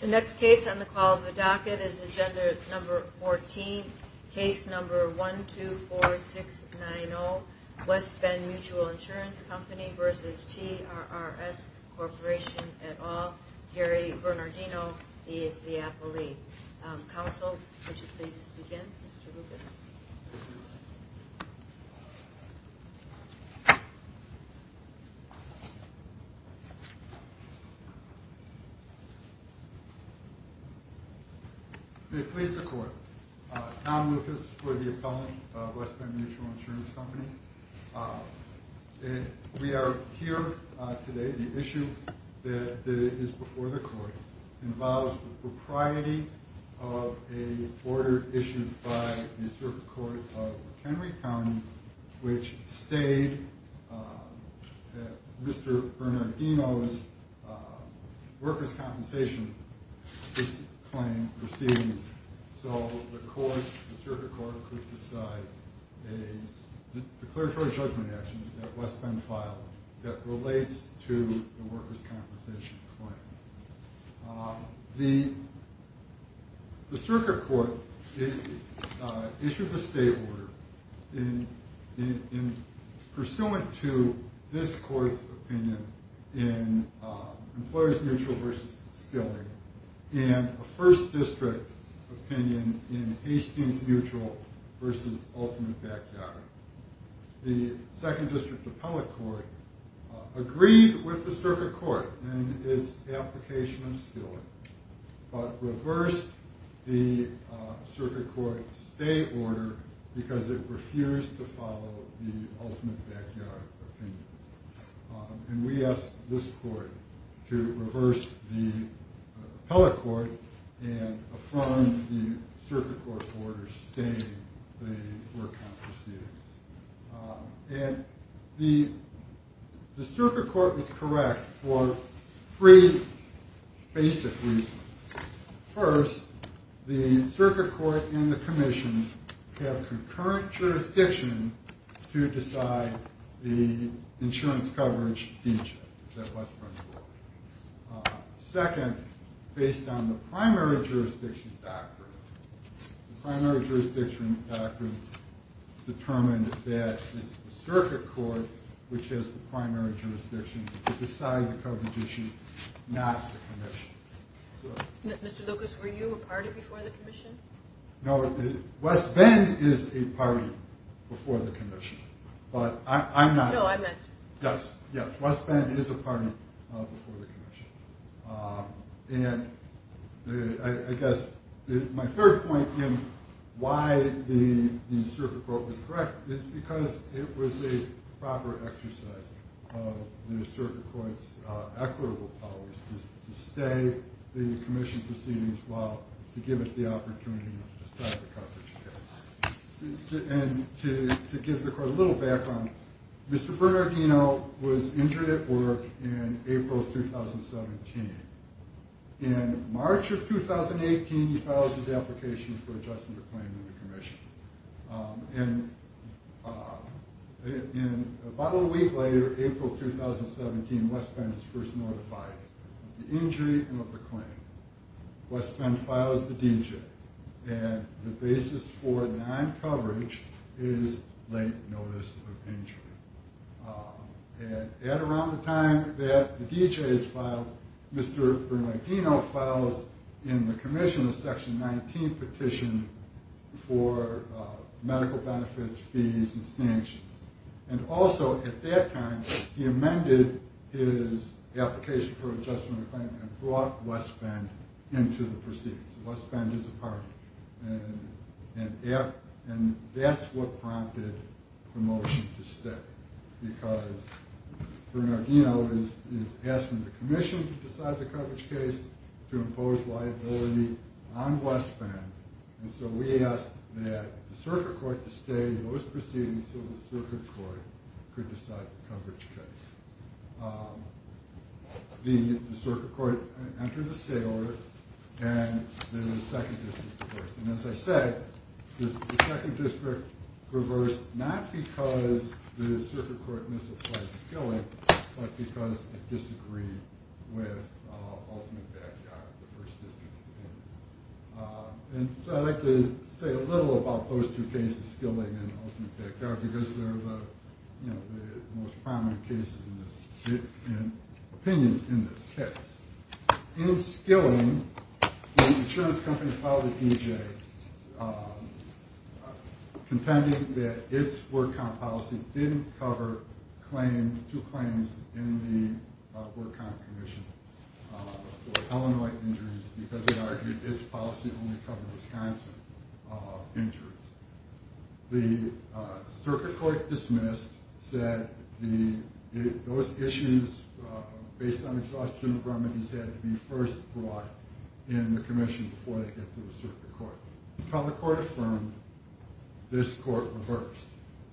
The next case on the call of the docket is Agenda No. 14, Case No. 124690, West Bend Mutual Insurance Company v. TRRS Corp. et al. Gary Bernardino is the appellee. Counsel, would you please begin, Mr. Lucas? May it please the Court. Tom Lucas for the appellant of West Bend Mutual Insurance Company. We are here today. The issue that is before the Court involves the propriety of an order issued by the Circuit Court of Henry County, which stayed at Mr. Bernardino's workers' compensation claim proceedings. So the Circuit Court could decide a declaratory judgment action that West Bend filed that relates to the workers' compensation claim. The Circuit Court issued a state order pursuant to this Court's opinion in Employers Mutual v. Skilling and a First District opinion in Hastings Mutual v. Ultimate Backyard. The Second District Appellate Court agreed with the Circuit Court in its application of Skilling, but reversed the Circuit Court's state order because it refused to follow the Ultimate Backyard opinion. And we asked this Court to reverse the Appellate Court and affront the Circuit Court's order stating the work-out proceedings. And the Circuit Court was correct for three basic reasons. First, the Circuit Court and the Commission have concurrent jurisdiction to decide the insurance coverage degree that West Bend will apply. Second, based on the primary jurisdiction doctrine, the primary jurisdiction doctrine determined that it's the Circuit Court which has the primary jurisdiction to decide the coverage issue, not the Commission. Mr. Lucas, were you a party before the Commission? No, West Bend is a party before the Commission, but I'm not. No, I'm not sure. Yes, yes, West Bend is a party before the Commission. And I guess my third point in why the Circuit Court was correct is because it was a proper exercise of the Circuit Court's equitable powers to stay the Commission proceedings while to give it the opportunity to decide the coverage case. And to give the Court a little background, Mr. Bernardino was injured at work in April 2017. In March of 2018, he filed his application for adjustment of claim to the Commission. And about a week later, April 2017, West Bend was first notified of the injury and of the claim. West Bend files the D.J. and the basis for non-coverage is late notice of injury. And at around the time that the D.J. is filed, Mr. Bernardino files in the Commission a Section 19 petition for medical benefits, fees, and sanctions. And also at that time, he amended his application for adjustment of claim and brought West Bend into the proceedings. So West Bend is a party. And that's what prompted the motion to stay. Because Bernardino is asking the Commission to decide the coverage case to impose liability on West Bend. And so we asked that the Circuit Court to stay those proceedings so the Circuit Court could decide the coverage case. The Circuit Court entered a stay order, and the 2nd District reversed. And as I said, the 2nd District reversed not because the Circuit Court misapplied the skilling, but because it disagreed with Ultimate Backyard, the 1st District. And so I'd like to say a little about those 2 cases, skilling and Ultimate Backyard, because they're the most prominent cases and opinions in this case. In skilling, the insurance company filed a D.J. contending that its work comp policy didn't cover 2 claims in the work comp commission for Illinois injuries because it argued its policy only covered Wisconsin injuries. The Circuit Court dismissed, said those issues based on exhaustion of remedies had to be first brought in the commission before they get to the Circuit Court. Until the Court affirmed, this Court reversed.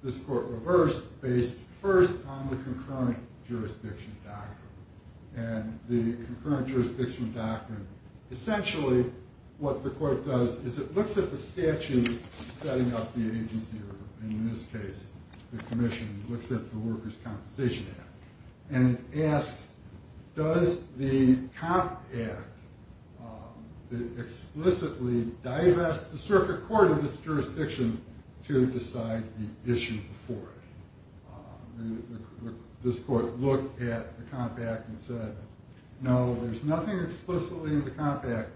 This Court reversed based first on the concurrent jurisdiction doctrine. And the concurrent jurisdiction doctrine, essentially what the Court does is it looks at the statute setting up the agency, or in this case the commission, looks at the Workers' Compensation Act, and asks, does the Comp Act explicitly divest the Circuit Court of this jurisdiction to decide the issue before it? This Court looked at the Comp Act and said, no, there's nothing explicitly in the Comp Act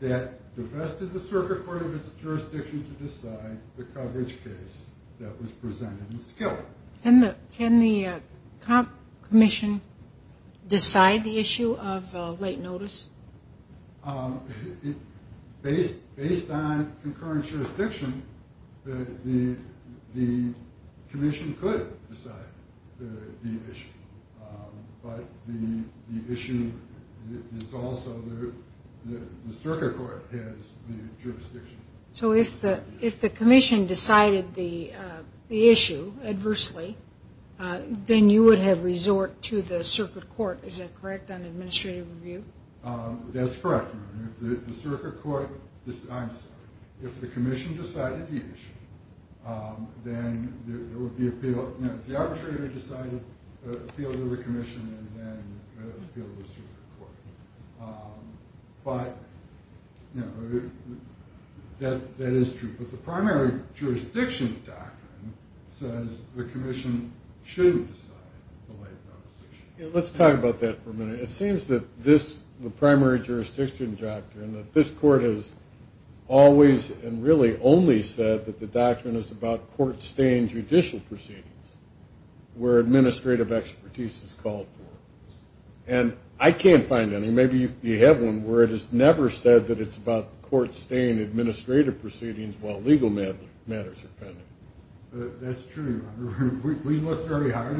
that divested the Circuit Court of its jurisdiction to decide the coverage case that was presented in skilling. Can the comp commission decide the issue of late notice? Based on concurrent jurisdiction, the commission could decide the issue, but the issue is also the Circuit Court has the jurisdiction. So if the commission decided the issue adversely, then you would have resort to the Circuit Court, is that correct, on administrative review? That's correct. If the Circuit Court, I'm sorry, if the commission decided the issue, then there would be appeal. If the arbitrator decided, appeal to the commission and then appeal to the Circuit Court. But that is true. But the primary jurisdiction doctrine says the commission should decide the late notice issue. Let's talk about that for a minute. It seems that this, the primary jurisdiction doctrine, that this court has always and really only said that the doctrine is about court-staying judicial proceedings where administrative expertise is called for. And I can't find any, maybe you have one, where it has never said that it's about court-staying administrative proceedings while legal matters are pending. That's true. We look very hard.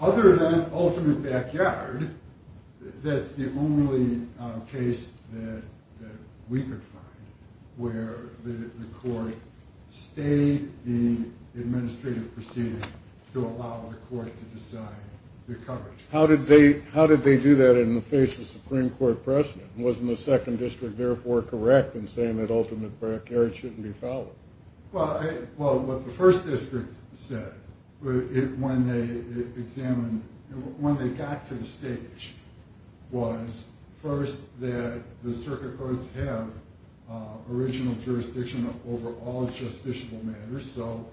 Other than ultimate backyard, that's the only case that we could find where the court stayed the administrative proceedings to allow the court to decide the coverage. How did they do that in the face of Supreme Court precedent? Wasn't the Second District therefore correct in saying that ultimate backyard shouldn't be followed? Well, what the First District said when they examined, when they got to the stage, was first that the Circuit Courts have original jurisdiction over all justiciable matters. So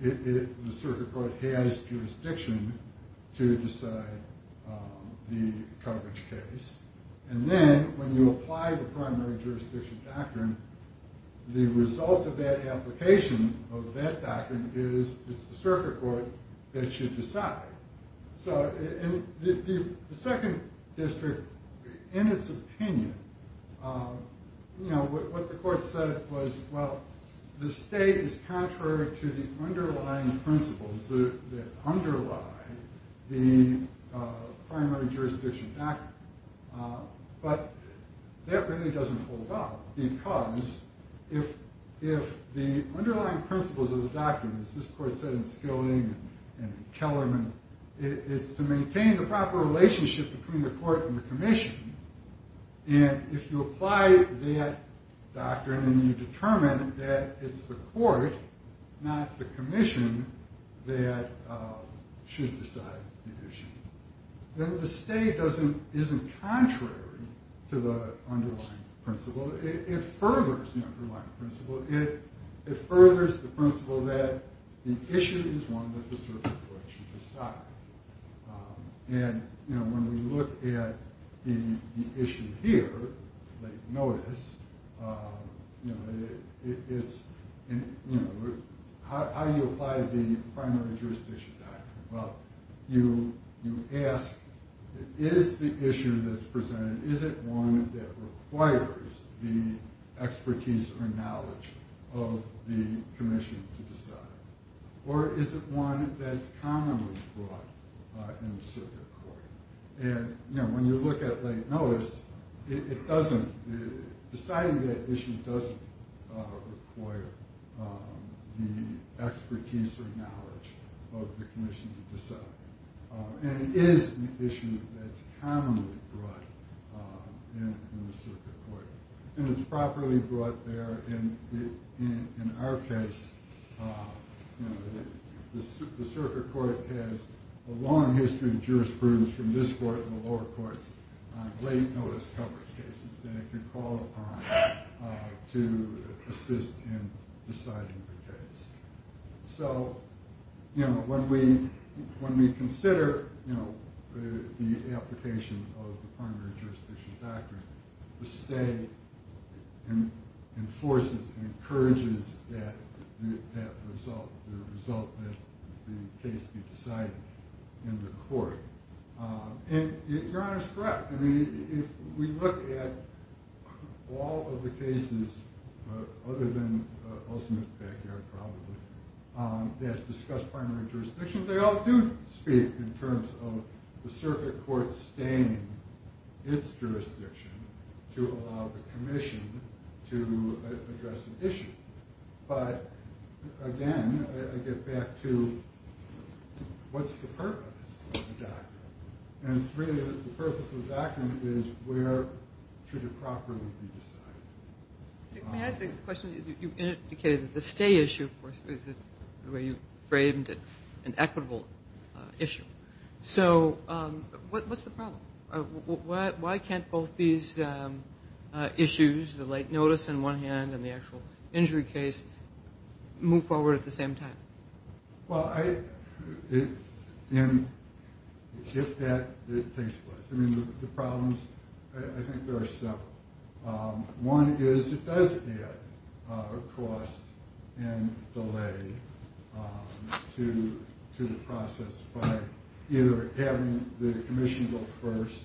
the Circuit Court has jurisdiction to decide the coverage case. And then when you apply the primary jurisdiction doctrine, the result of that application of that doctrine is it's the Circuit Court that should decide. The Second District, in its opinion, what the court said was, well, the state is contrary to the underlying principles that underlie the primary jurisdiction doctrine. But that really doesn't hold up because if the underlying principles of the doctrine, as this court said in Skilling and Kellerman, is to maintain the proper relationship between the court and the commission, and if you apply that doctrine and you determine that it's the court, not the commission, that should decide the issue, then the state isn't contrary to the underlying principle. It furthers the underlying principle. It furthers the principle that the issue is one that the Circuit Court should decide. And when we look at the issue here, like notice, how do you apply the primary jurisdiction doctrine? Well, you ask, is the issue that's presented, is it one that requires the expertise or knowledge of the commission to decide? Or is it one that's commonly brought in the Circuit Court? And when you look at late notice, deciding that issue doesn't require the expertise or knowledge of the commission to decide. And it is an issue that's commonly brought in the Circuit Court. And it's properly brought there. And in our case, the Circuit Court has a long history of jurisprudence from this court and the lower courts on late notice coverage cases that it can call upon to assist in deciding the case. So when we consider the application of the primary jurisdiction doctrine, the state enforces and encourages that result, the result that the case be decided in the court. And Your Honor's correct. I mean, if we look at all of the cases, other than Ellsmith backyard probably, that discuss primary jurisdiction, they all do speak in terms of the Circuit Court staying its jurisdiction to allow the commission to address an issue. But again, I get back to what's the purpose of the doctrine? And really, the purpose of the doctrine is where should it properly be decided? Let me ask a question. You indicated that the stay issue, of course, is the way you framed it, an equitable issue. So what's the problem? Why can't both these issues, the late notice on one hand and the actual injury case, move forward at the same time? Well, if that takes place. I mean, the problems, I think there are several. One is it does add cost and delay to the process by either having the commission go first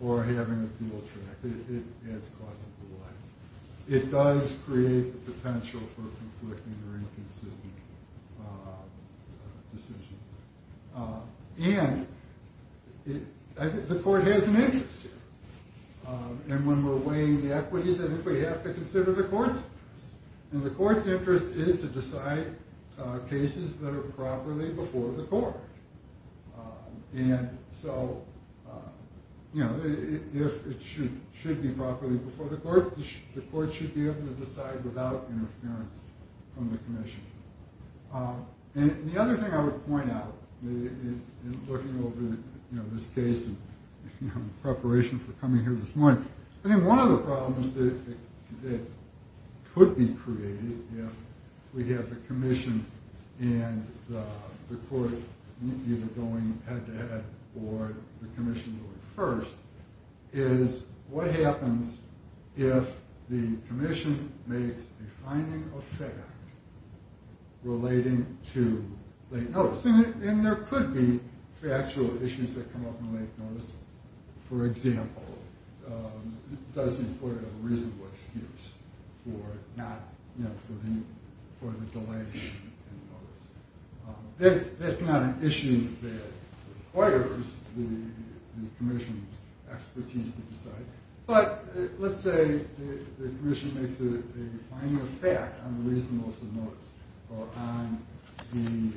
or having the appeal track. It adds cost and delay. It does create the potential for conflicting or inconsistent decisions. And I think the court has an interest here. And when we're weighing the equities, I think we have to consider the court's interest. And the court's interest is to decide cases that are properly before the court. And so it should be properly before the court. The court should be able to decide without interference from the commission. And the other thing I would point out in looking over this case in preparation for coming here this morning, I think one of the problems that could be created if we have the commission and the court either going head-to-head or the commission going first, is what happens if the commission makes a finding of fact relating to late notice. And there could be factual issues that come up in late notice. For example, does the employer have a reasonable excuse for the delay in notice? That's not an issue that requires the commission's expertise to decide. But let's say the commission makes a finding of fact on the reasonableness of notice or on the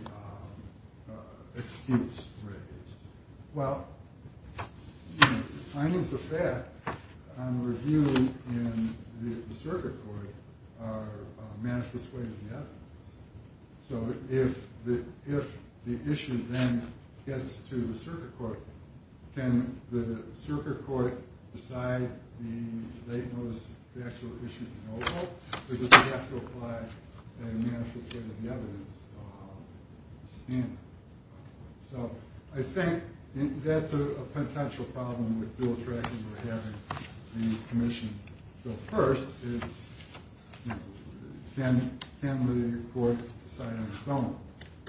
excuse raised. Well, the findings of fact on the review in the circuit court are manifest ways of the evidence. So if the issue then gets to the circuit court, can the circuit court decide the late notice factual issue in Oval? Or does it have to apply a manifest way to the evidence standard? So I think that's a potential problem with bill tracking or having the commission go first. Can the court decide on its own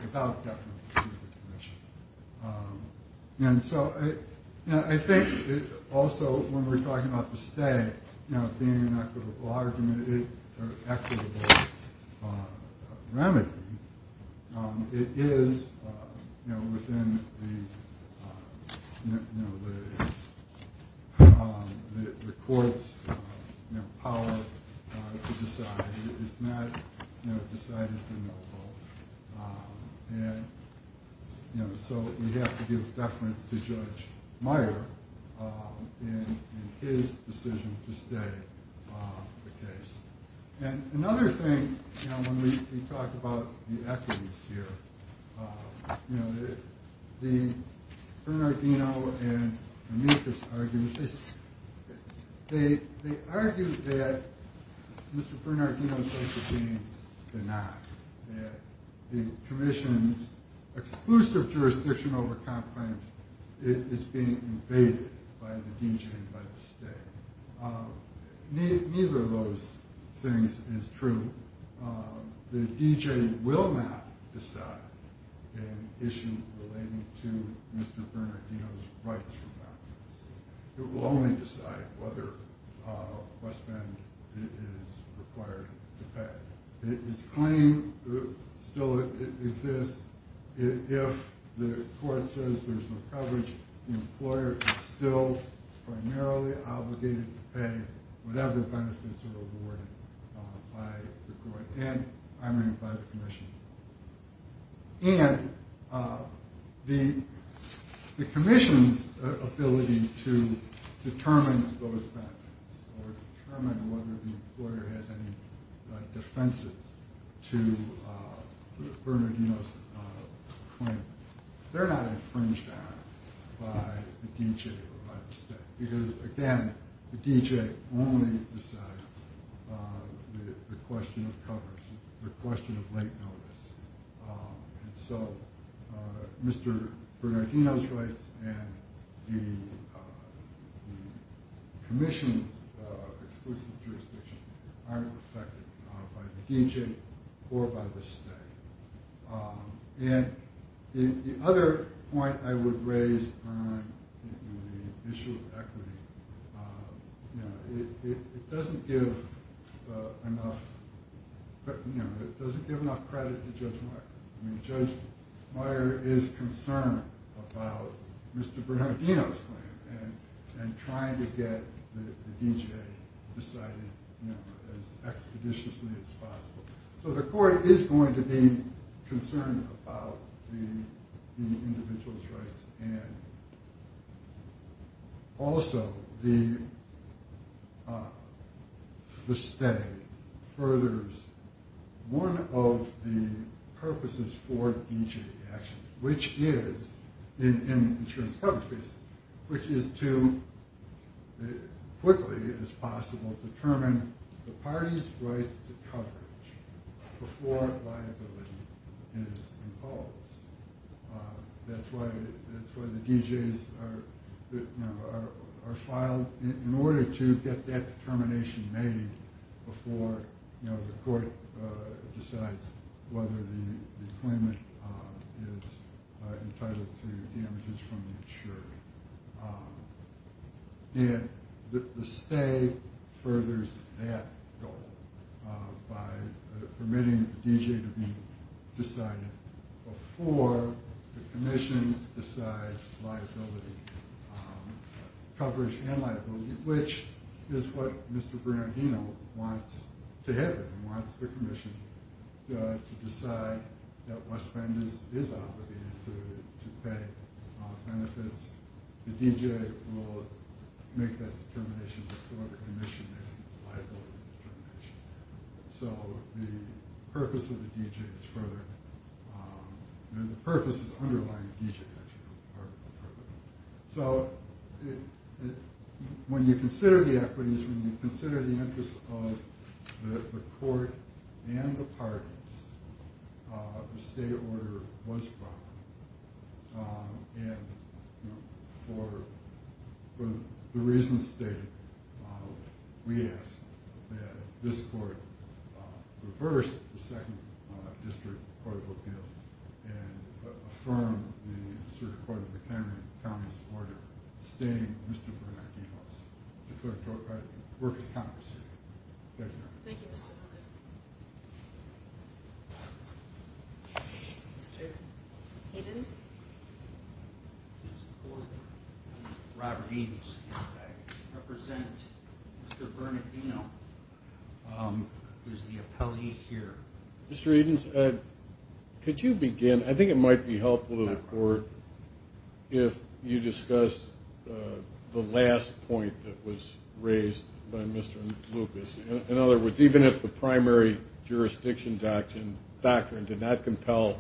without deference to the commission? And so I think also when we're talking about the stay, being an equitable argument or equitable remedy, it is within the court's power to decide. It's not decided through no vote. And so we have to give deference to Judge Meyer in his decision to stay the case. And another thing, you know, when we talk about the equities here, you know, the Bernardino and Ametis arguments, they argue that Mr. Bernardino's case is being denied, that the commission's exclusive jurisdiction over comp claims is being invaded by the DG and by the state. Neither of those things is true. The DG will not decide an issue relating to Mr. Bernardino's rights for documents. It will only decide whether West Bend is required to pay. Its claim still exists if the court says there's no coverage, the employer is still primarily obligated to pay whatever benefits are awarded by the court and, I mean, by the commission. And the commission's ability to determine those benefits or determine whether the employer has any defenses to Bernardino's claim, they're not infringed on by the DG or by the state. Because, again, the DG only decides the question of coverage, the question of late notice. And so Mr. Bernardino's rights and the commission's exclusive jurisdiction aren't affected by the DG or by the state. And the other point I would raise on the issue of equity, it doesn't give enough credit to Judge Meyer. I mean, Judge Meyer is concerned about Mr. Bernardino's claim and trying to get the DG decided as expeditiously as possible. So the court is going to be concerned about the individual's rights and also the state furthers one of the purposes for DG action, which is, in insurance coverage cases, which is to, as quickly as possible, determine the party's rights to coverage before liability is imposed. That's why the DGs are filed in order to get that determination made before the court decides whether the claimant is entitled to damages from the insurer. And the state furthers that goal by permitting the DG to be decided before the commission decides liability, coverage and liability, which is what Mr. Bernardino wants to happen, wants the commission to decide that what spend is obligated to pay benefits. The DG will make that determination before the commission makes the liability determination. So the purpose of the DG is further, the purpose is underlying the DG action. So when you consider the equities, when you consider the interest of the court and the parties, the state order was brought, and for the reasons stated, we ask that this court reverse the Second District Court of Appeals and affirm the Supreme Court of McHenry County's order, disdaining Mr. Bernardino's declaratory right to work as a county prosecutor. Thank you. Thank you, Mr. Lucas. Mr. Edens? Robert Edens. I represent Mr. Bernardino, who is the appellee here. Mr. Edens, could you begin? I think it might be helpful to the court if you discuss the last point that was raised by Mr. Lucas. In other words, even if the primary jurisdiction doctrine did not compel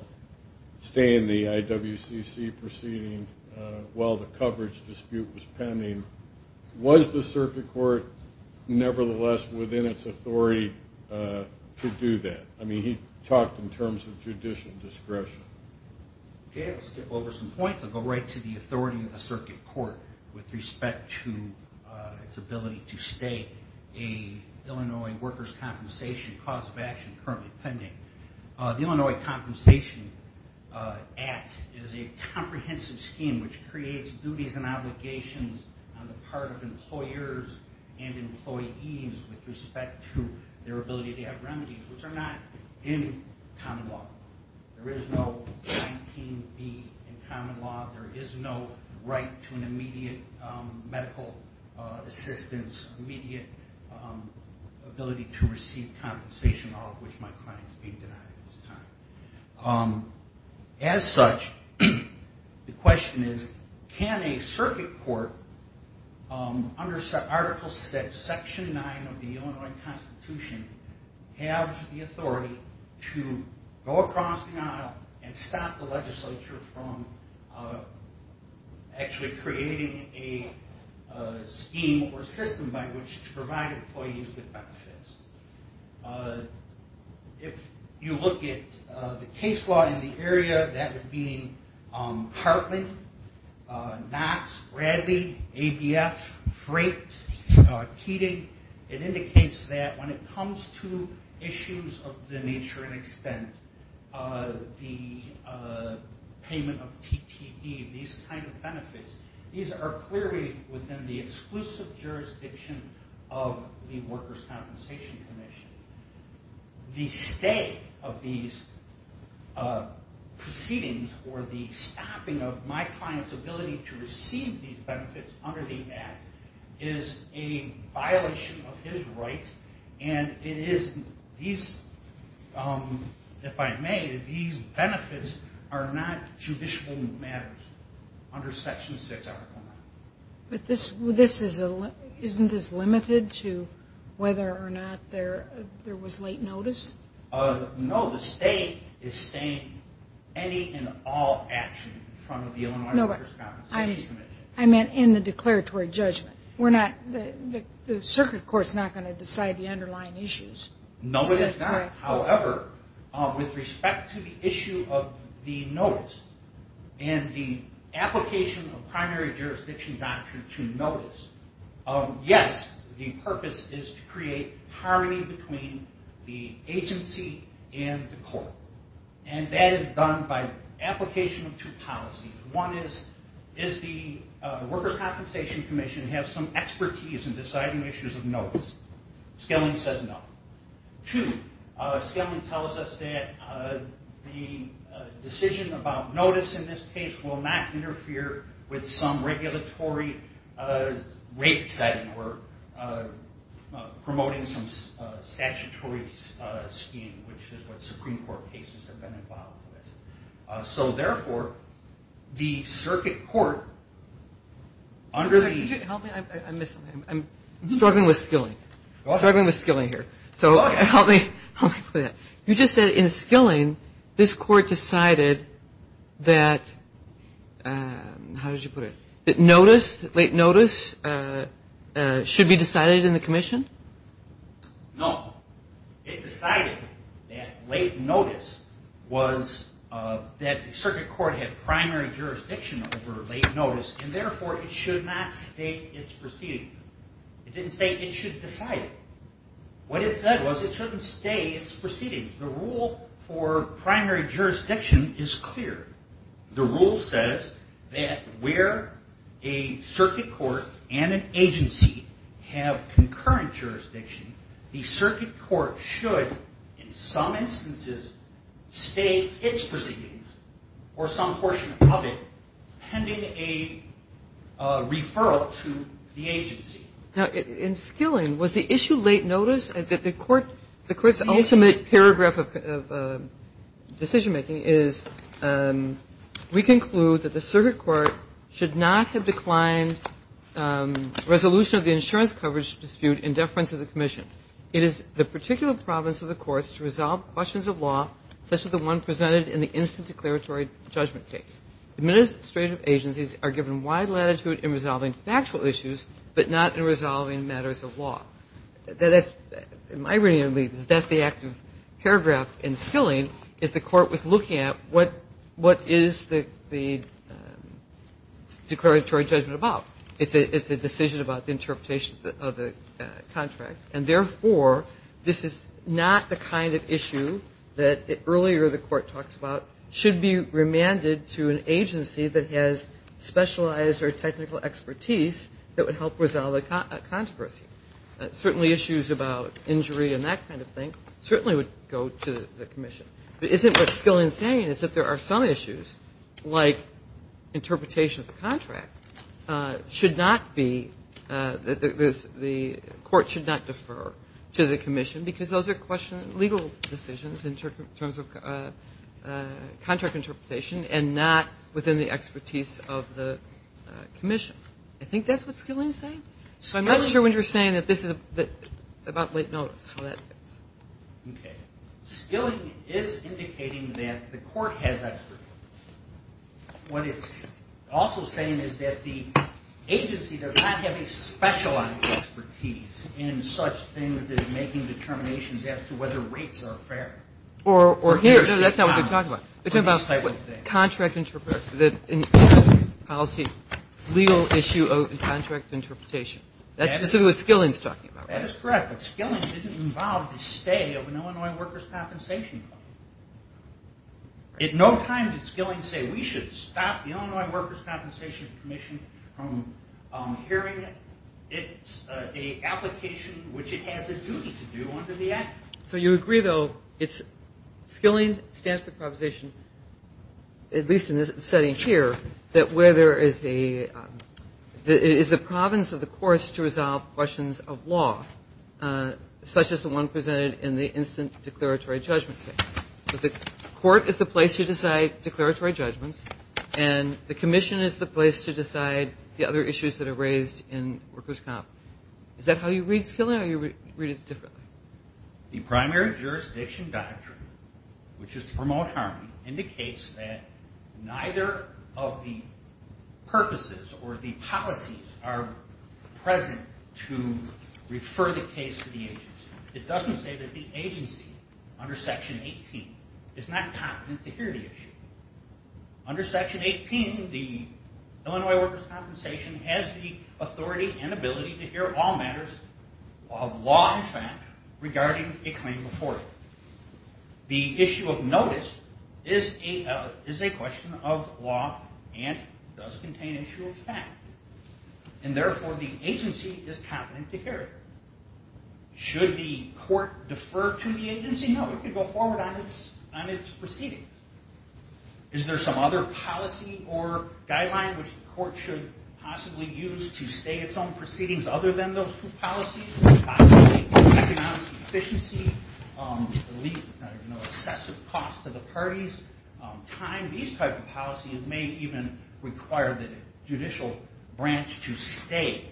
staying in the IWCC proceeding while the coverage dispute was pending, was the circuit court nevertheless within its authority to do that? I mean, he talked in terms of judicial discretion. Okay, I'll skip over some points and go right to the authority of the circuit court with respect to its ability to stay a Illinois workers' compensation cause of action currently pending. The Illinois Compensation Act is a comprehensive scheme which creates duties and obligations on the part of employers and employees with respect to their ability to have remedies, which are not in common law. There is no 19B in common law. There is no right to an immediate medical assistance, immediate ability to receive compensation, all of which my client is being denied at this time. As such, the question is, can a circuit court under Article VI, Section 9 of the Illinois Constitution, have the authority to go across the aisle and stop the legislature from actually creating a scheme or system by which to provide employees with benefits? If you look at the case law in the area, that would be Hartley, Knox, Bradley, ADF, Freight, Keating. It indicates that when it comes to issues of the nature and extent, the payment of TTE, these are clearly within the exclusive jurisdiction of the Workers' Compensation Commission. The stay of these proceedings or the stopping of my client's ability to receive these benefits under the Act is a violation of his rights. If I may, these benefits are not judicial matters under Section VI, Article 9. Isn't this limited to whether or not there was late notice? No. The state is staying any and all action in front of the Illinois Workers' Compensation Commission. I meant in the declaratory judgment. The circuit court is not going to decide the underlying issues. No, it is not. However, with respect to the issue of the notice and the application of primary jurisdiction doctrine to notice, yes, the purpose is to create harmony between the agency and the court. And that is done by application of two policies. One is, is the Workers' Compensation Commission have some expertise in deciding issues of notice? Skilling says no. Two, Skilling tells us that the decision about notice in this case will not interfere with some regulatory rate setting or promoting some statutory scheme, which is what Supreme Court cases have been involved with. So, therefore, the circuit court under the – I'm struggling with Skilling. I'm struggling with Skilling here. So help me put that. You just said in Skilling this court decided that – how did you put it? That notice, late notice, should be decided in the commission? No. It decided that late notice was – that the circuit court had primary jurisdiction over late notice, and, therefore, it should not state its proceedings. It didn't state it should decide it. What it said was it shouldn't state its proceedings. The rule for primary jurisdiction is clear. The rule says that where a circuit court and an agency have concurrent jurisdiction, the circuit court should, in some instances, state its proceedings or some portion of it pending a referral to the agency. Now, in Skilling, was the issue late notice? The court's ultimate paragraph of decision-making is, we conclude that the circuit court should not have declined resolution of the insurance coverage dispute in deference of the commission. It is the particular province of the courts to resolve questions of law, such as the one presented in the instant declaratory judgment case. Administrative agencies are given wide latitude in resolving factual issues, but not in resolving matters of law. In my reading, that's the active paragraph in Skilling, is the court was looking at what is the declaratory judgment about. It's a decision about the interpretation of the contract, and, therefore, this is not the kind of issue that earlier the court talks about should be remanded to an agency that has specialized or technical expertise that would help resolve a controversy. Certainly issues about injury and that kind of thing certainly would go to the commission. But isn't what Skilling is saying is that there are some issues, like interpretation of the contract, should not be the court should not defer to the commission, because those are legal decisions in terms of contract interpretation and not within the expertise of the commission. I think that's what Skilling is saying. So I'm not sure what you're saying about late notice, how that fits. Okay. Skilling is indicating that the court has expertise. What it's also saying is that the agency does not have a specialized expertise in such things as making determinations as to whether rates are fair. No, that's not what they're talking about. Contract interpretation, legal issue of contract interpretation. That's specifically what Skilling is talking about. That is correct, but Skilling didn't involve the stay of an Illinois workers' compensation. At no time did Skilling say we should stop the Illinois workers' compensation commission from hearing it. It's an application which it has a duty to do under the Act. So you agree, though, Skilling stands to the proposition, at least in this setting here, that it is the province of the courts to resolve questions of law, such as the one presented in the instant declaratory judgment case. So the court is the place to decide declaratory judgments, and the commission is the place to decide the other issues that are raised in workers' comp. Is that how you read Skilling or you read it differently? The primary jurisdiction doctrine, which is to promote harmony, indicates that neither of the purposes or the policies are present to refer the case to the agency. It doesn't say that the agency, under Section 18, is not competent to hear the issue. Under Section 18, the Illinois workers' compensation has the authority and ability to hear all matters of law and fact regarding a claim before it. The issue of notice is a question of law and does contain issue of fact, and therefore the agency is competent to hear it. Should the court defer to the agency? No, it could go forward on its proceedings. Is there some other policy or guideline which the court should possibly use to stay its own proceedings other than those two policies? Possibly economic efficiency, excessive cost to the parties, time. These type of policies may even require the judicial branch to stay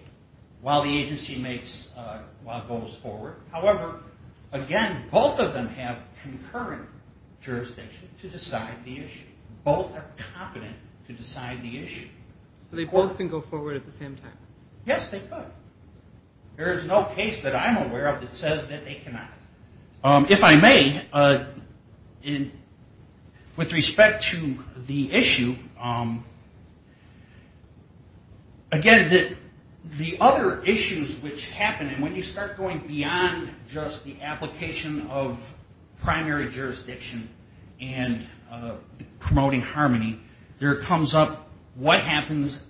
while the agency goes forward. However, again, both of them have concurrent jurisdiction to decide the issue. Both are competent to decide the issue. So they both can go forward at the same time? Yes, they could. There is no case that I'm aware of that says that they cannot. If I may, with respect to the issue, again, the other issues which happen, and when you start going beyond just the application of primary jurisdiction and promoting harmony, there comes up what happens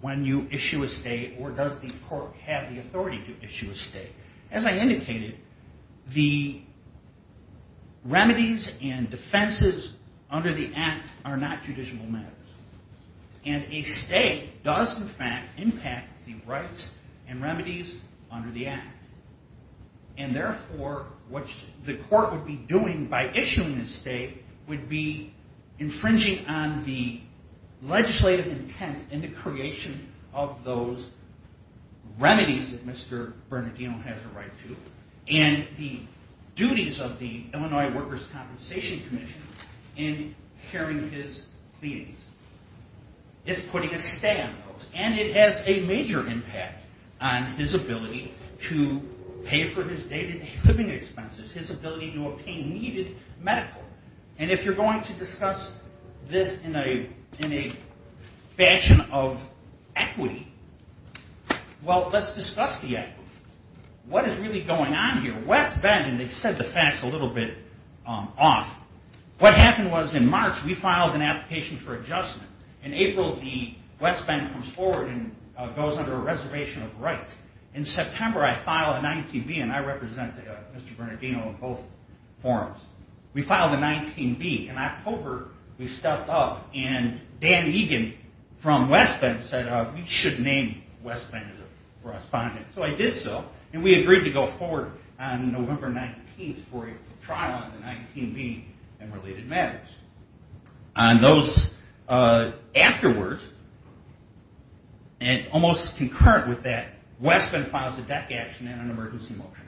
when you issue a state or does the court have the authority to issue a state. As I indicated, the remedies and defenses under the Act are not judicial matters. And a state does in fact impact the rights and remedies under the Act. And therefore, what the court would be doing by issuing a state would be infringing on the legislative intent in the creation of those remedies that Mr. Bernardino has a right to and the duties of the Illinois Workers' Compensation Commission in hearing his pleadings. It's putting a stay on those. And it has a major impact on his ability to pay for his daily living expenses, his ability to obtain needed medical. And if you're going to discuss this in a fashion of equity, well, let's discuss the equity. What is really going on here? West Bend, and they've said the facts a little bit off, what happened was in March we filed an application for adjustment. In April, West Bend comes forward and goes under a reservation of rights. In September, I filed a 19B, and I represented Mr. Bernardino in both forums. We filed a 19B. In October, we stepped up, and Dan Egan from West Bend said, we should name West Bend as a respondent. So I did so, and we agreed to go forward on November 19th for a trial on the 19B and related matters. On those afterwards, and almost concurrent with that, West Bend files a deck action and an emergency motion.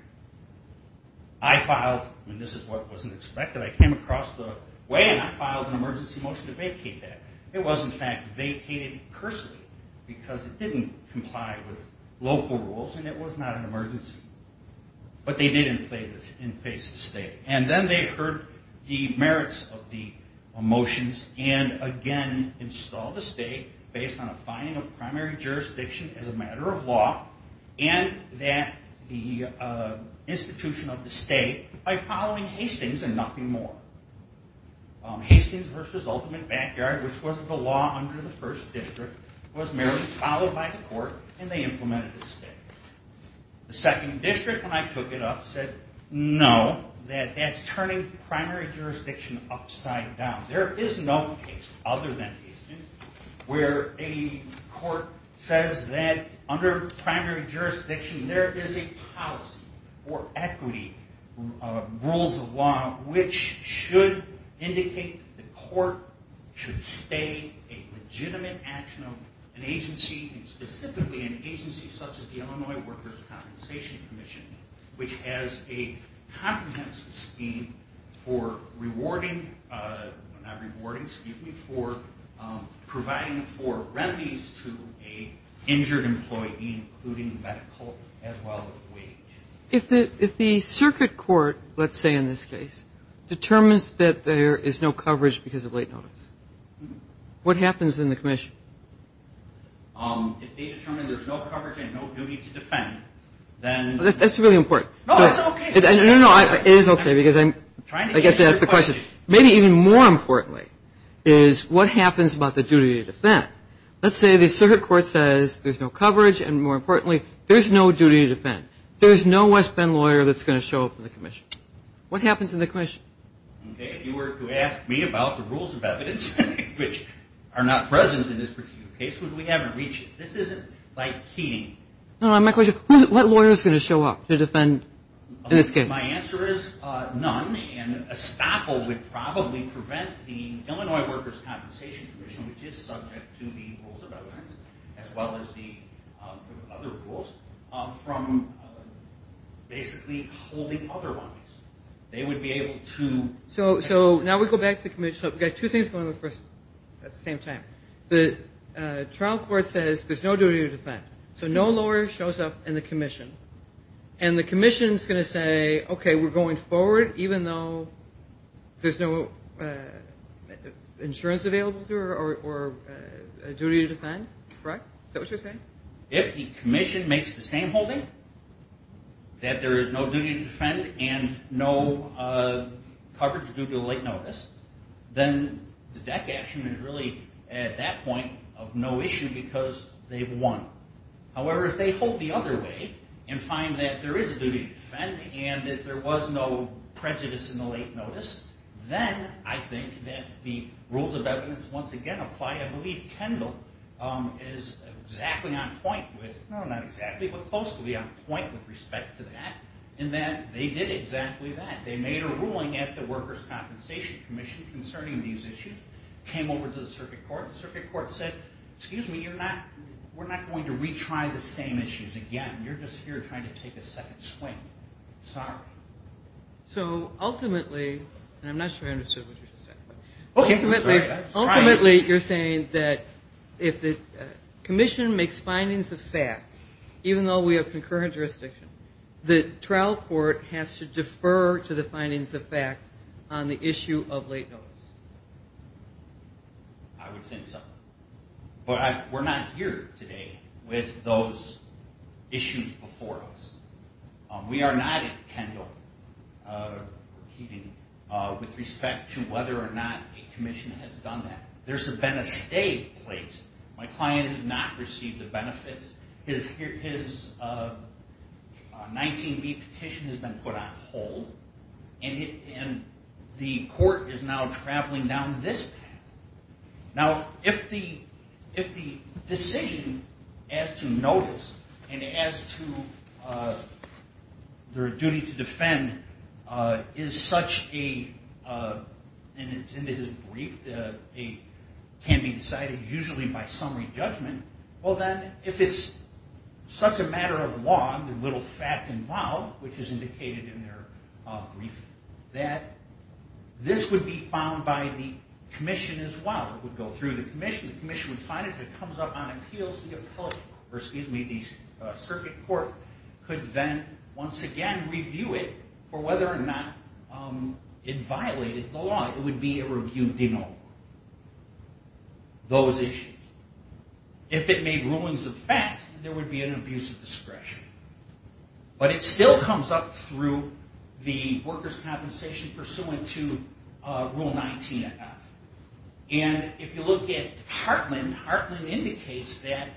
I filed, and this is what wasn't expected, I came across the way, and I filed an emergency motion to vacate that. It was, in fact, vacated personally because it didn't comply with local rules and it was not an emergency. But they didn't play this in face to state. And then they heard the merits of the motions and, again, installed the state based on a finding of primary jurisdiction as a matter of law and that the institution of the state by following Hastings and nothing more. Hastings v. Ultimate Backyard, which was the law under the first district, was merely followed by the court, and they implemented the state. The second district, when I took it up, said no, that that's turning primary jurisdiction upside down. There is no case other than Hastings where a court says that under primary jurisdiction there is a policy or equity rules of law which should indicate the court should stay a legitimate action of an agency, and specifically an agency such as the Illinois Workers' Compensation Commission, which has a comprehensive scheme for rewarding or not rewarding, excuse me, for providing for remedies to an injured employee, including medical as well as wage. If the circuit court, let's say in this case, determines that there is no coverage because of late notice, what happens in the commission? If they determine there is no coverage and no duty to defend, then- That's really important. No, that's okay. No, no, it is okay because I'm trying to get to the question. I'm trying to get to your question. Maybe even more importantly is what happens about the duty to defend? Let's say the circuit court says there's no coverage, and more importantly, there's no duty to defend. There's no West Bend lawyer that's going to show up in the commission. What happens in the commission? Okay, if you were to ask me about the rules of evidence, which are not present in this particular case, we haven't reached it. This isn't like keying. My question is, what lawyer is going to show up to defend in this case? My answer is none, and a staffle would probably prevent the Illinois Workers' Compensation Commission, which is subject to the rules of evidence as well as the other rules, from basically holding otherwise. They would be able to- So now we go back to the commission. We've got two things going on at the same time. The trial court says there's no duty to defend, so no lawyer shows up in the commission, and the commission is going to say, okay, we're going forward, even though there's no insurance available or a duty to defend, correct? Is that what you're saying? If the commission makes the same holding, that there is no duty to defend and no coverage due to late notice, then the DEC action is really, at that point, of no issue because they've won. However, if they hold the other way and find that there is a duty to defend and that there was no prejudice in the late notice, then I think that the rules of evidence once again apply. I believe Kendall is exactly on point with- with respect to that in that they did exactly that. They made a ruling at the Workers' Compensation Commission concerning these issues, came over to the circuit court, and the circuit court said, excuse me, we're not going to retry the same issues again. You're just here trying to take a second swing. Sorry. So ultimately, and I'm not sure I understood what you just said, but ultimately you're saying that if the commission makes findings of fact, even though we have concurrent jurisdiction, the trial court has to defer to the findings of fact on the issue of late notice. I would think so. But we're not here today with those issues before us. We are not at Kendall, repeating, with respect to whether or not a commission has done that. My client has not received the benefits. His 19B petition has been put on hold, and the court is now traveling down this path. Now, if the decision as to notice and as to their duty to defend is such a- and it's in his brief that it can be decided usually by summary judgment, well, then, if it's such a matter of law, the little fact involved, which is indicated in their brief, that this would be found by the commission as well. It would go through the commission. The commission would find it. If it comes up on appeals, the circuit court could then, once again, review it for whether or not it violated the law. It would be a review de novo. Those issues. If it made rulings of fact, there would be an abuse of discretion. But it still comes up through the workers' compensation pursuant to Rule 19. And if you look at Heartland, Heartland indicates that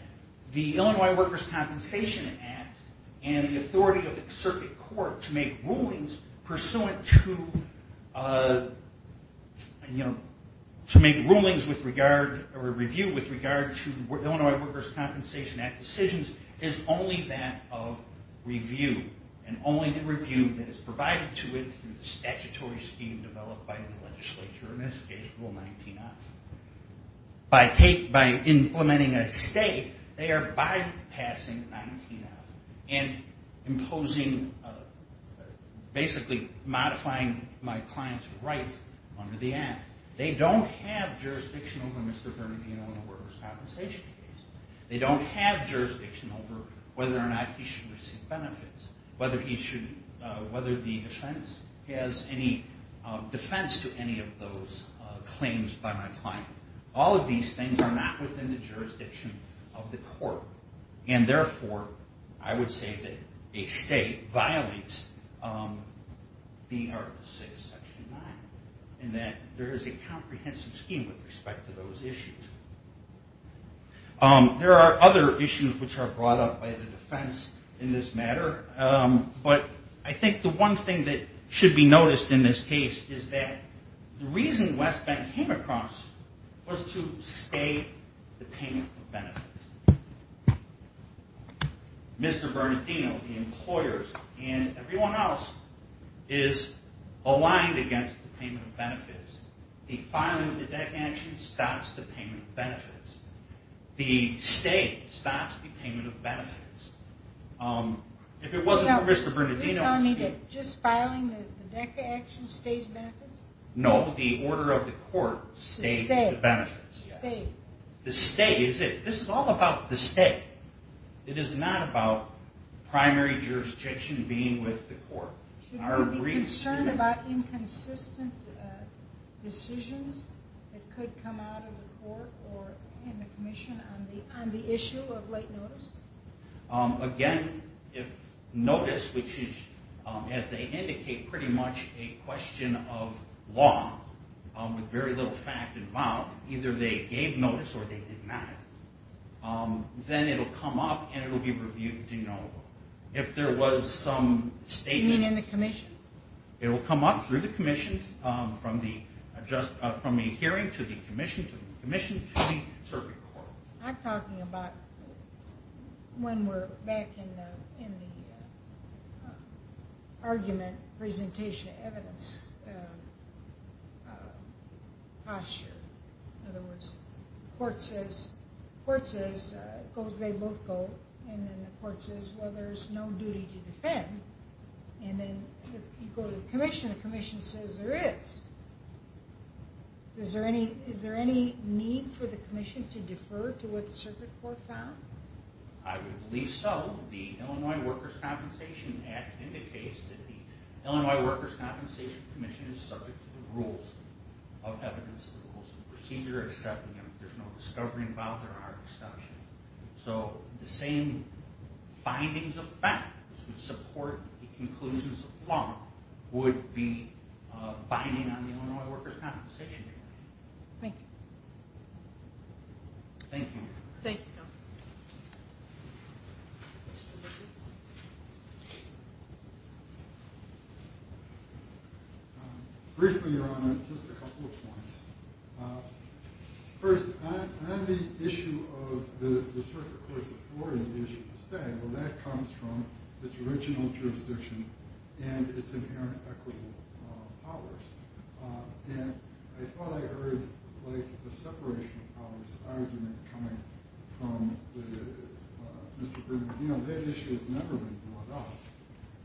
the Illinois Workers' Compensation Act and the authority of the circuit court to make rulings pursuant to make rulings with regard- or review with regard to the Illinois Workers' Compensation Act decisions is only that of review. And only the review that is provided to it through the statutory scheme developed by the legislature in this case, Rule 19-F. By implementing a state, they are bypassing 19-F and imposing-basically modifying my client's rights under the act. They don't have jurisdiction over Mr. Bernadino and the workers' compensation case. They don't have jurisdiction over whether or not he should receive benefits, whether he should-whether the defense has any defense to any of those claims by my client. All of these things are not within the jurisdiction of the court. And therefore, I would say that a state violates the Article 6, Section 9, and that there is a comprehensive scheme with respect to those issues. There are other issues which are brought up by the defense in this matter, but I think the one thing that should be noticed in this case is that the reason West Bank came across was to stay the payment of benefits. Mr. Bernadino, the employers, and everyone else, is aligned against the payment of benefits. The filing of the DECA action stops the payment of benefits. The state stops the payment of benefits. If it wasn't for Mr. Bernadino- So you're telling me that just filing the DECA action stays benefits? No, the order of the court stays the benefits. The state. The state is it. This is all about the state. It is not about primary jurisdiction being with the court. Should we be concerned about inconsistent decisions that could come out of the court or in the commission on the issue of late notice? Again, if notice, which is, as they indicate, pretty much a question of law with very little fact involved, either they gave notice or they did not, then it will come up and it will be reviewed to know if there was some statements- You mean in the commission? It will come up through the commission from a hearing to the commission, to the commission, to the circuit court. I'm talking about when we're back in the argument presentation evidence posture. In other words, the court says, they both go, and then the court says, well, there's no duty to defend, and then you go to the commission and the commission says there is. Is there any need for the commission to defer to what the circuit court found? I would believe so. The Illinois Workers' Compensation Act indicates that the Illinois Workers' Compensation Commission is subject to the rules of evidence. The rules of procedure are accepted. There's no discovery involved. There are exceptions. So the same findings of fact that support the conclusions of law would be binding on the Illinois Workers' Compensation Commission. Thank you. Thank you. Thank you, counsel. Briefly, Your Honor, just a couple of points. First, on the issue of the circuit court's authority, well, that comes from its original jurisdiction and its inherent equitable powers. And I thought I heard a separation of powers argument coming from Mr. Bernadino. That issue has never been brought up.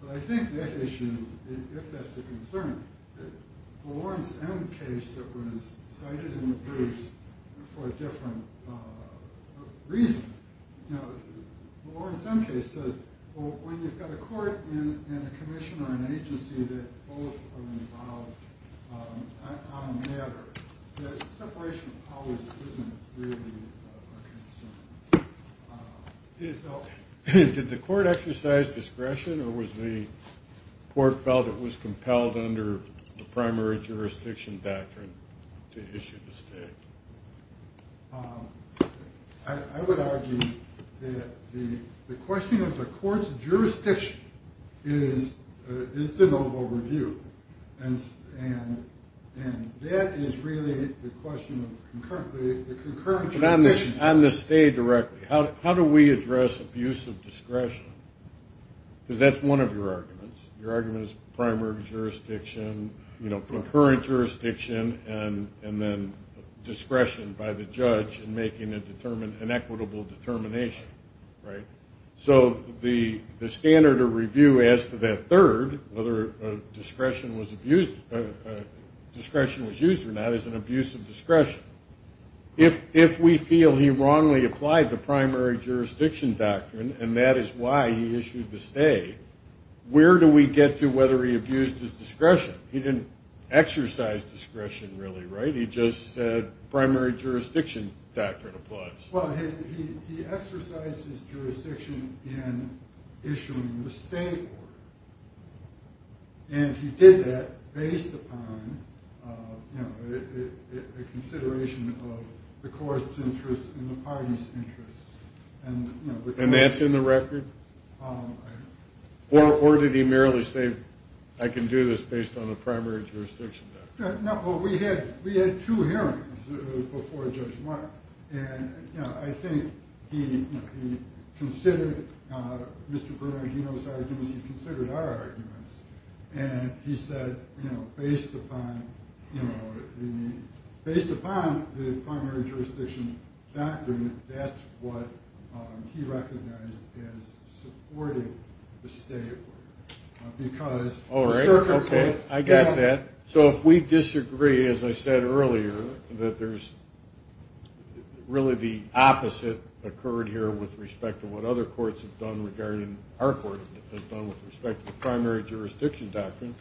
But I think that issue, if that's a concern, the Lawrence M case that was cited in the briefs for a different reason. The Lawrence M case says when you've got a court and a commission or an agency that both are involved on a matter, that separation of powers isn't really a concern. Did the court exercise discretion or was the court felt it was compelled under the primary jurisdiction doctrine to issue the state? I would argue that the question of the court's jurisdiction is the noble review. And that is really the question of the concurrent jurisdiction. But on the state directly, how do we address abuse of discretion? Because that's one of your arguments. Your argument is primary jurisdiction, concurrent jurisdiction, and then discretion by the judge in making an equitable determination. So the standard of review as to that third, whether discretion was used or not, is an abuse of discretion. If we feel he wrongly applied the primary jurisdiction doctrine and that is why he issued the state, where do we get to whether he abused his discretion? He didn't exercise discretion really, right? He just said primary jurisdiction doctrine applies. Well, he exercised his jurisdiction in issuing the state order. And he did that based upon a consideration of the court's interests and the party's interests. And that's in the record? Or did he merely say, I can do this based on the primary jurisdiction? Well, we had two hearings before Judge Mark. And I think he considered Mr. Bernardino's arguments. He considered our arguments. And he said, based upon the primary jurisdiction doctrine, that's what he recognized as supporting the state order. All right, okay, I got that. So if we disagree, as I said earlier, that there's really the opposite occurred here with respect to what other courts have done regarding our court has done with respect to the primary jurisdiction doctrine,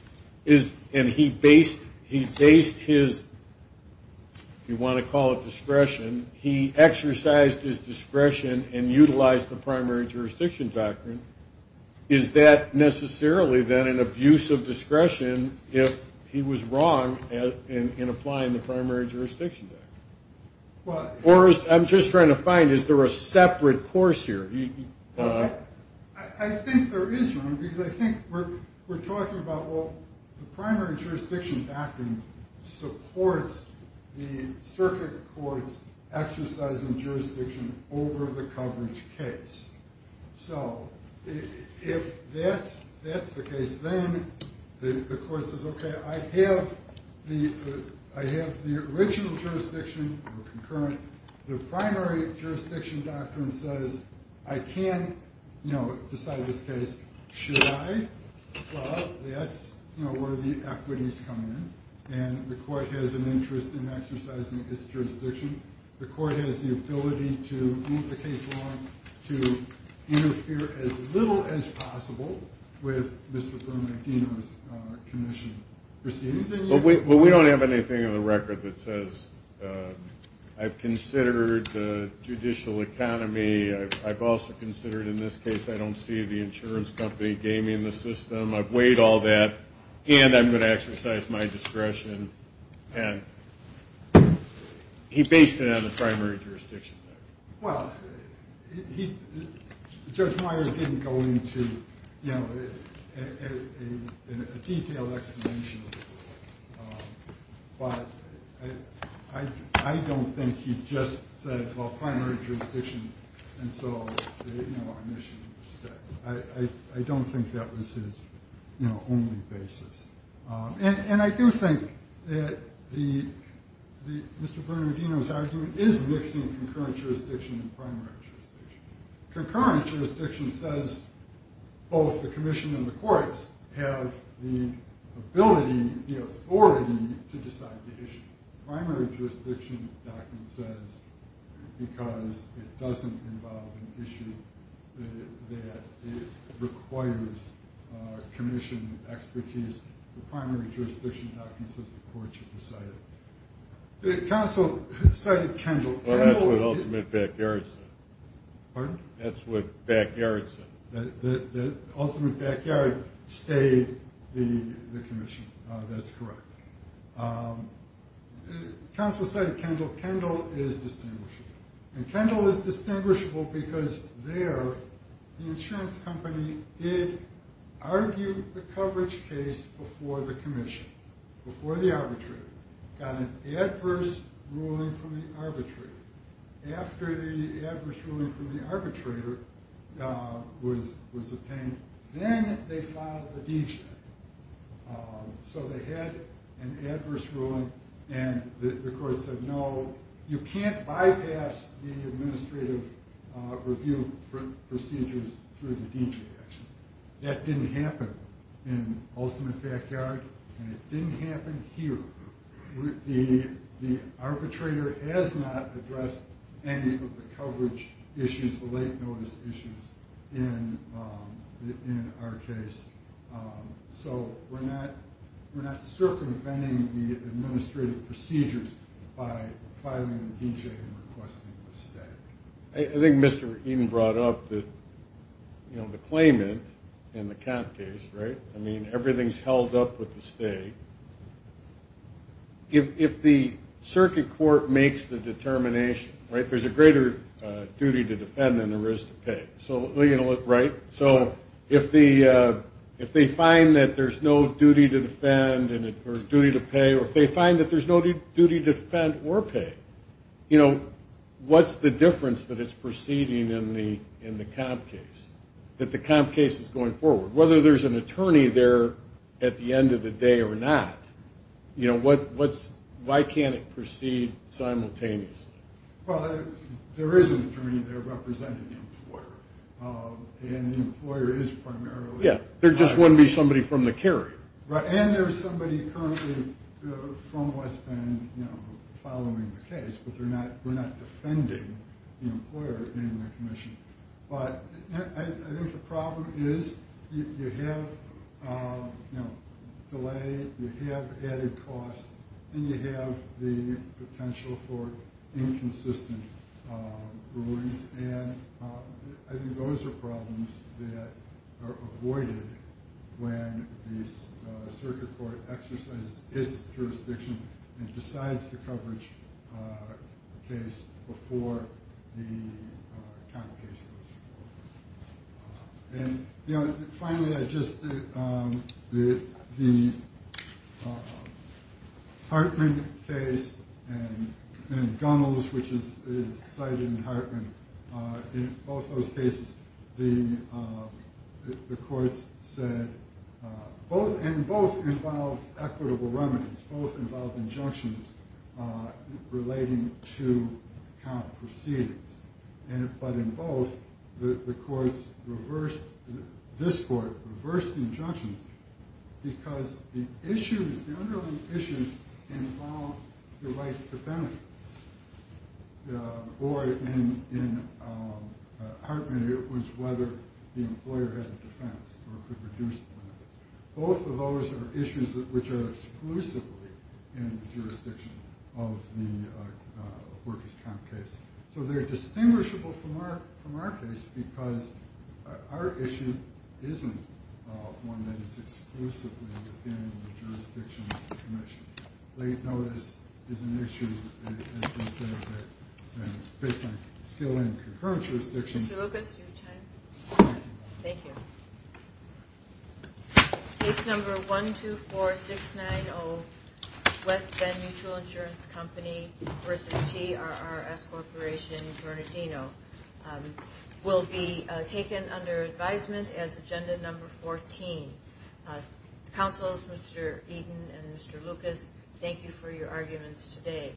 and he based his, if you want to call it discretion, he exercised his discretion and utilized the primary jurisdiction doctrine, is that necessarily, then, an abuse of discretion if he was wrong in applying the primary jurisdiction doctrine? Or I'm just trying to find, is there a separate course here? I think there is, Ron, because I think we're talking about, well, the primary jurisdiction doctrine supports the circuit court's exercise in jurisdiction over the coverage case. So if that's the case, then the court says, okay, I have the original jurisdiction or concurrent. The primary jurisdiction doctrine says I can decide this case. Should I? Well, that's where the equities come in, and the court has an interest in exercising its jurisdiction. The court has the ability to move the case along, to interfere as little as possible with Mr. Bernardino's commission proceedings. Well, we don't have anything on the record that says I've considered the judicial economy. I've also considered, in this case, I don't see the insurance company gaming the system. I've weighed all that, and I'm going to exercise my discretion. And he based it on the primary jurisdiction doctrine. Well, Judge Meyer didn't go into a detailed explanation, but I don't think he just said, well, primary jurisdiction. And so I don't think that was his only basis. And I do think that Mr. Bernardino's argument is mixing concurrent jurisdiction and primary jurisdiction. Concurrent jurisdiction says both the commission and the courts have the ability, the authority, to decide the issue. The primary jurisdiction doctrine says because it doesn't involve an issue that requires commission expertise, the primary jurisdiction doctrine says the court should decide it. Counsel, sorry, Kendall. Well, that's what ultimate backyard said. Pardon? That's what backyard said. The ultimate backyard stayed the commission. That's correct. Counsel, sorry, Kendall. Kendall is distinguishable. And Kendall is distinguishable because there the insurance company did argue the coverage case before the commission, before the arbitrator, got an adverse ruling from the arbitrator. After the adverse ruling from the arbitrator was obtained, then they filed the deed check. So they had an adverse ruling and the court said, no, you can't bypass the administrative review procedures through the deed check. That didn't happen in ultimate backyard and it didn't happen here. The arbitrator has not addressed any of the coverage issues, the late notice issues in our case. So we're not circumventing the administrative procedures by filing the deed check and requesting a stay. I think Mr. Eaton brought up the claimant in the camp case, right? I mean, everything's held up with the stay. If the circuit court makes the determination, right, there's a greater duty to defend than there is to pay. So, right? So if they find that there's no duty to defend or duty to pay, or if they find that there's no duty to defend or pay, you know, what's the difference that it's proceeding in the camp case, that the camp case is going forward? Whether there's an attorney there at the end of the day or not, you know, why can't it proceed simultaneously? Well, there is an attorney there representing the employer, and the employer is primarily. Yeah, there just wouldn't be somebody from the carrier. Right, and there's somebody currently from West Bend, you know, following the case, but we're not defending the employer in the commission. But I think the problem is you have, you know, delay, you have added costs, and you have the potential for inconsistent rulings. And I think those are problems that are avoided when the circuit court exercises its jurisdiction and decides the coverage case before the camp case goes forward. And, you know, finally, I just, the Hartman case and Gunnels, which is cited in Hartman, in both those cases, the courts said, and both involved equitable remedies, both involved injunctions relating to camp proceedings. But in both, the courts reversed, this court reversed the injunctions because the issues, the underlying issues involved the right to benefits. Or in Hartman, it was whether the employer had a defense or could reduce the benefits. Both of those are issues which are exclusively in the jurisdiction of the workers' camp case. So they're distinguishable from our case because our issue isn't one that is exclusively within the jurisdiction of the commission. Late notice is an issue, as we said, but based on skill and concurrent jurisdiction. Mr. Lucas, your time. Thank you. Case number 124690, West Bend Mutual Insurance Company versus TRRS Corporation, Bernardino, will be taken under advisement as agenda number 14. Counsels, Mr. Eaton and Mr. Lucas, thank you for your arguments today.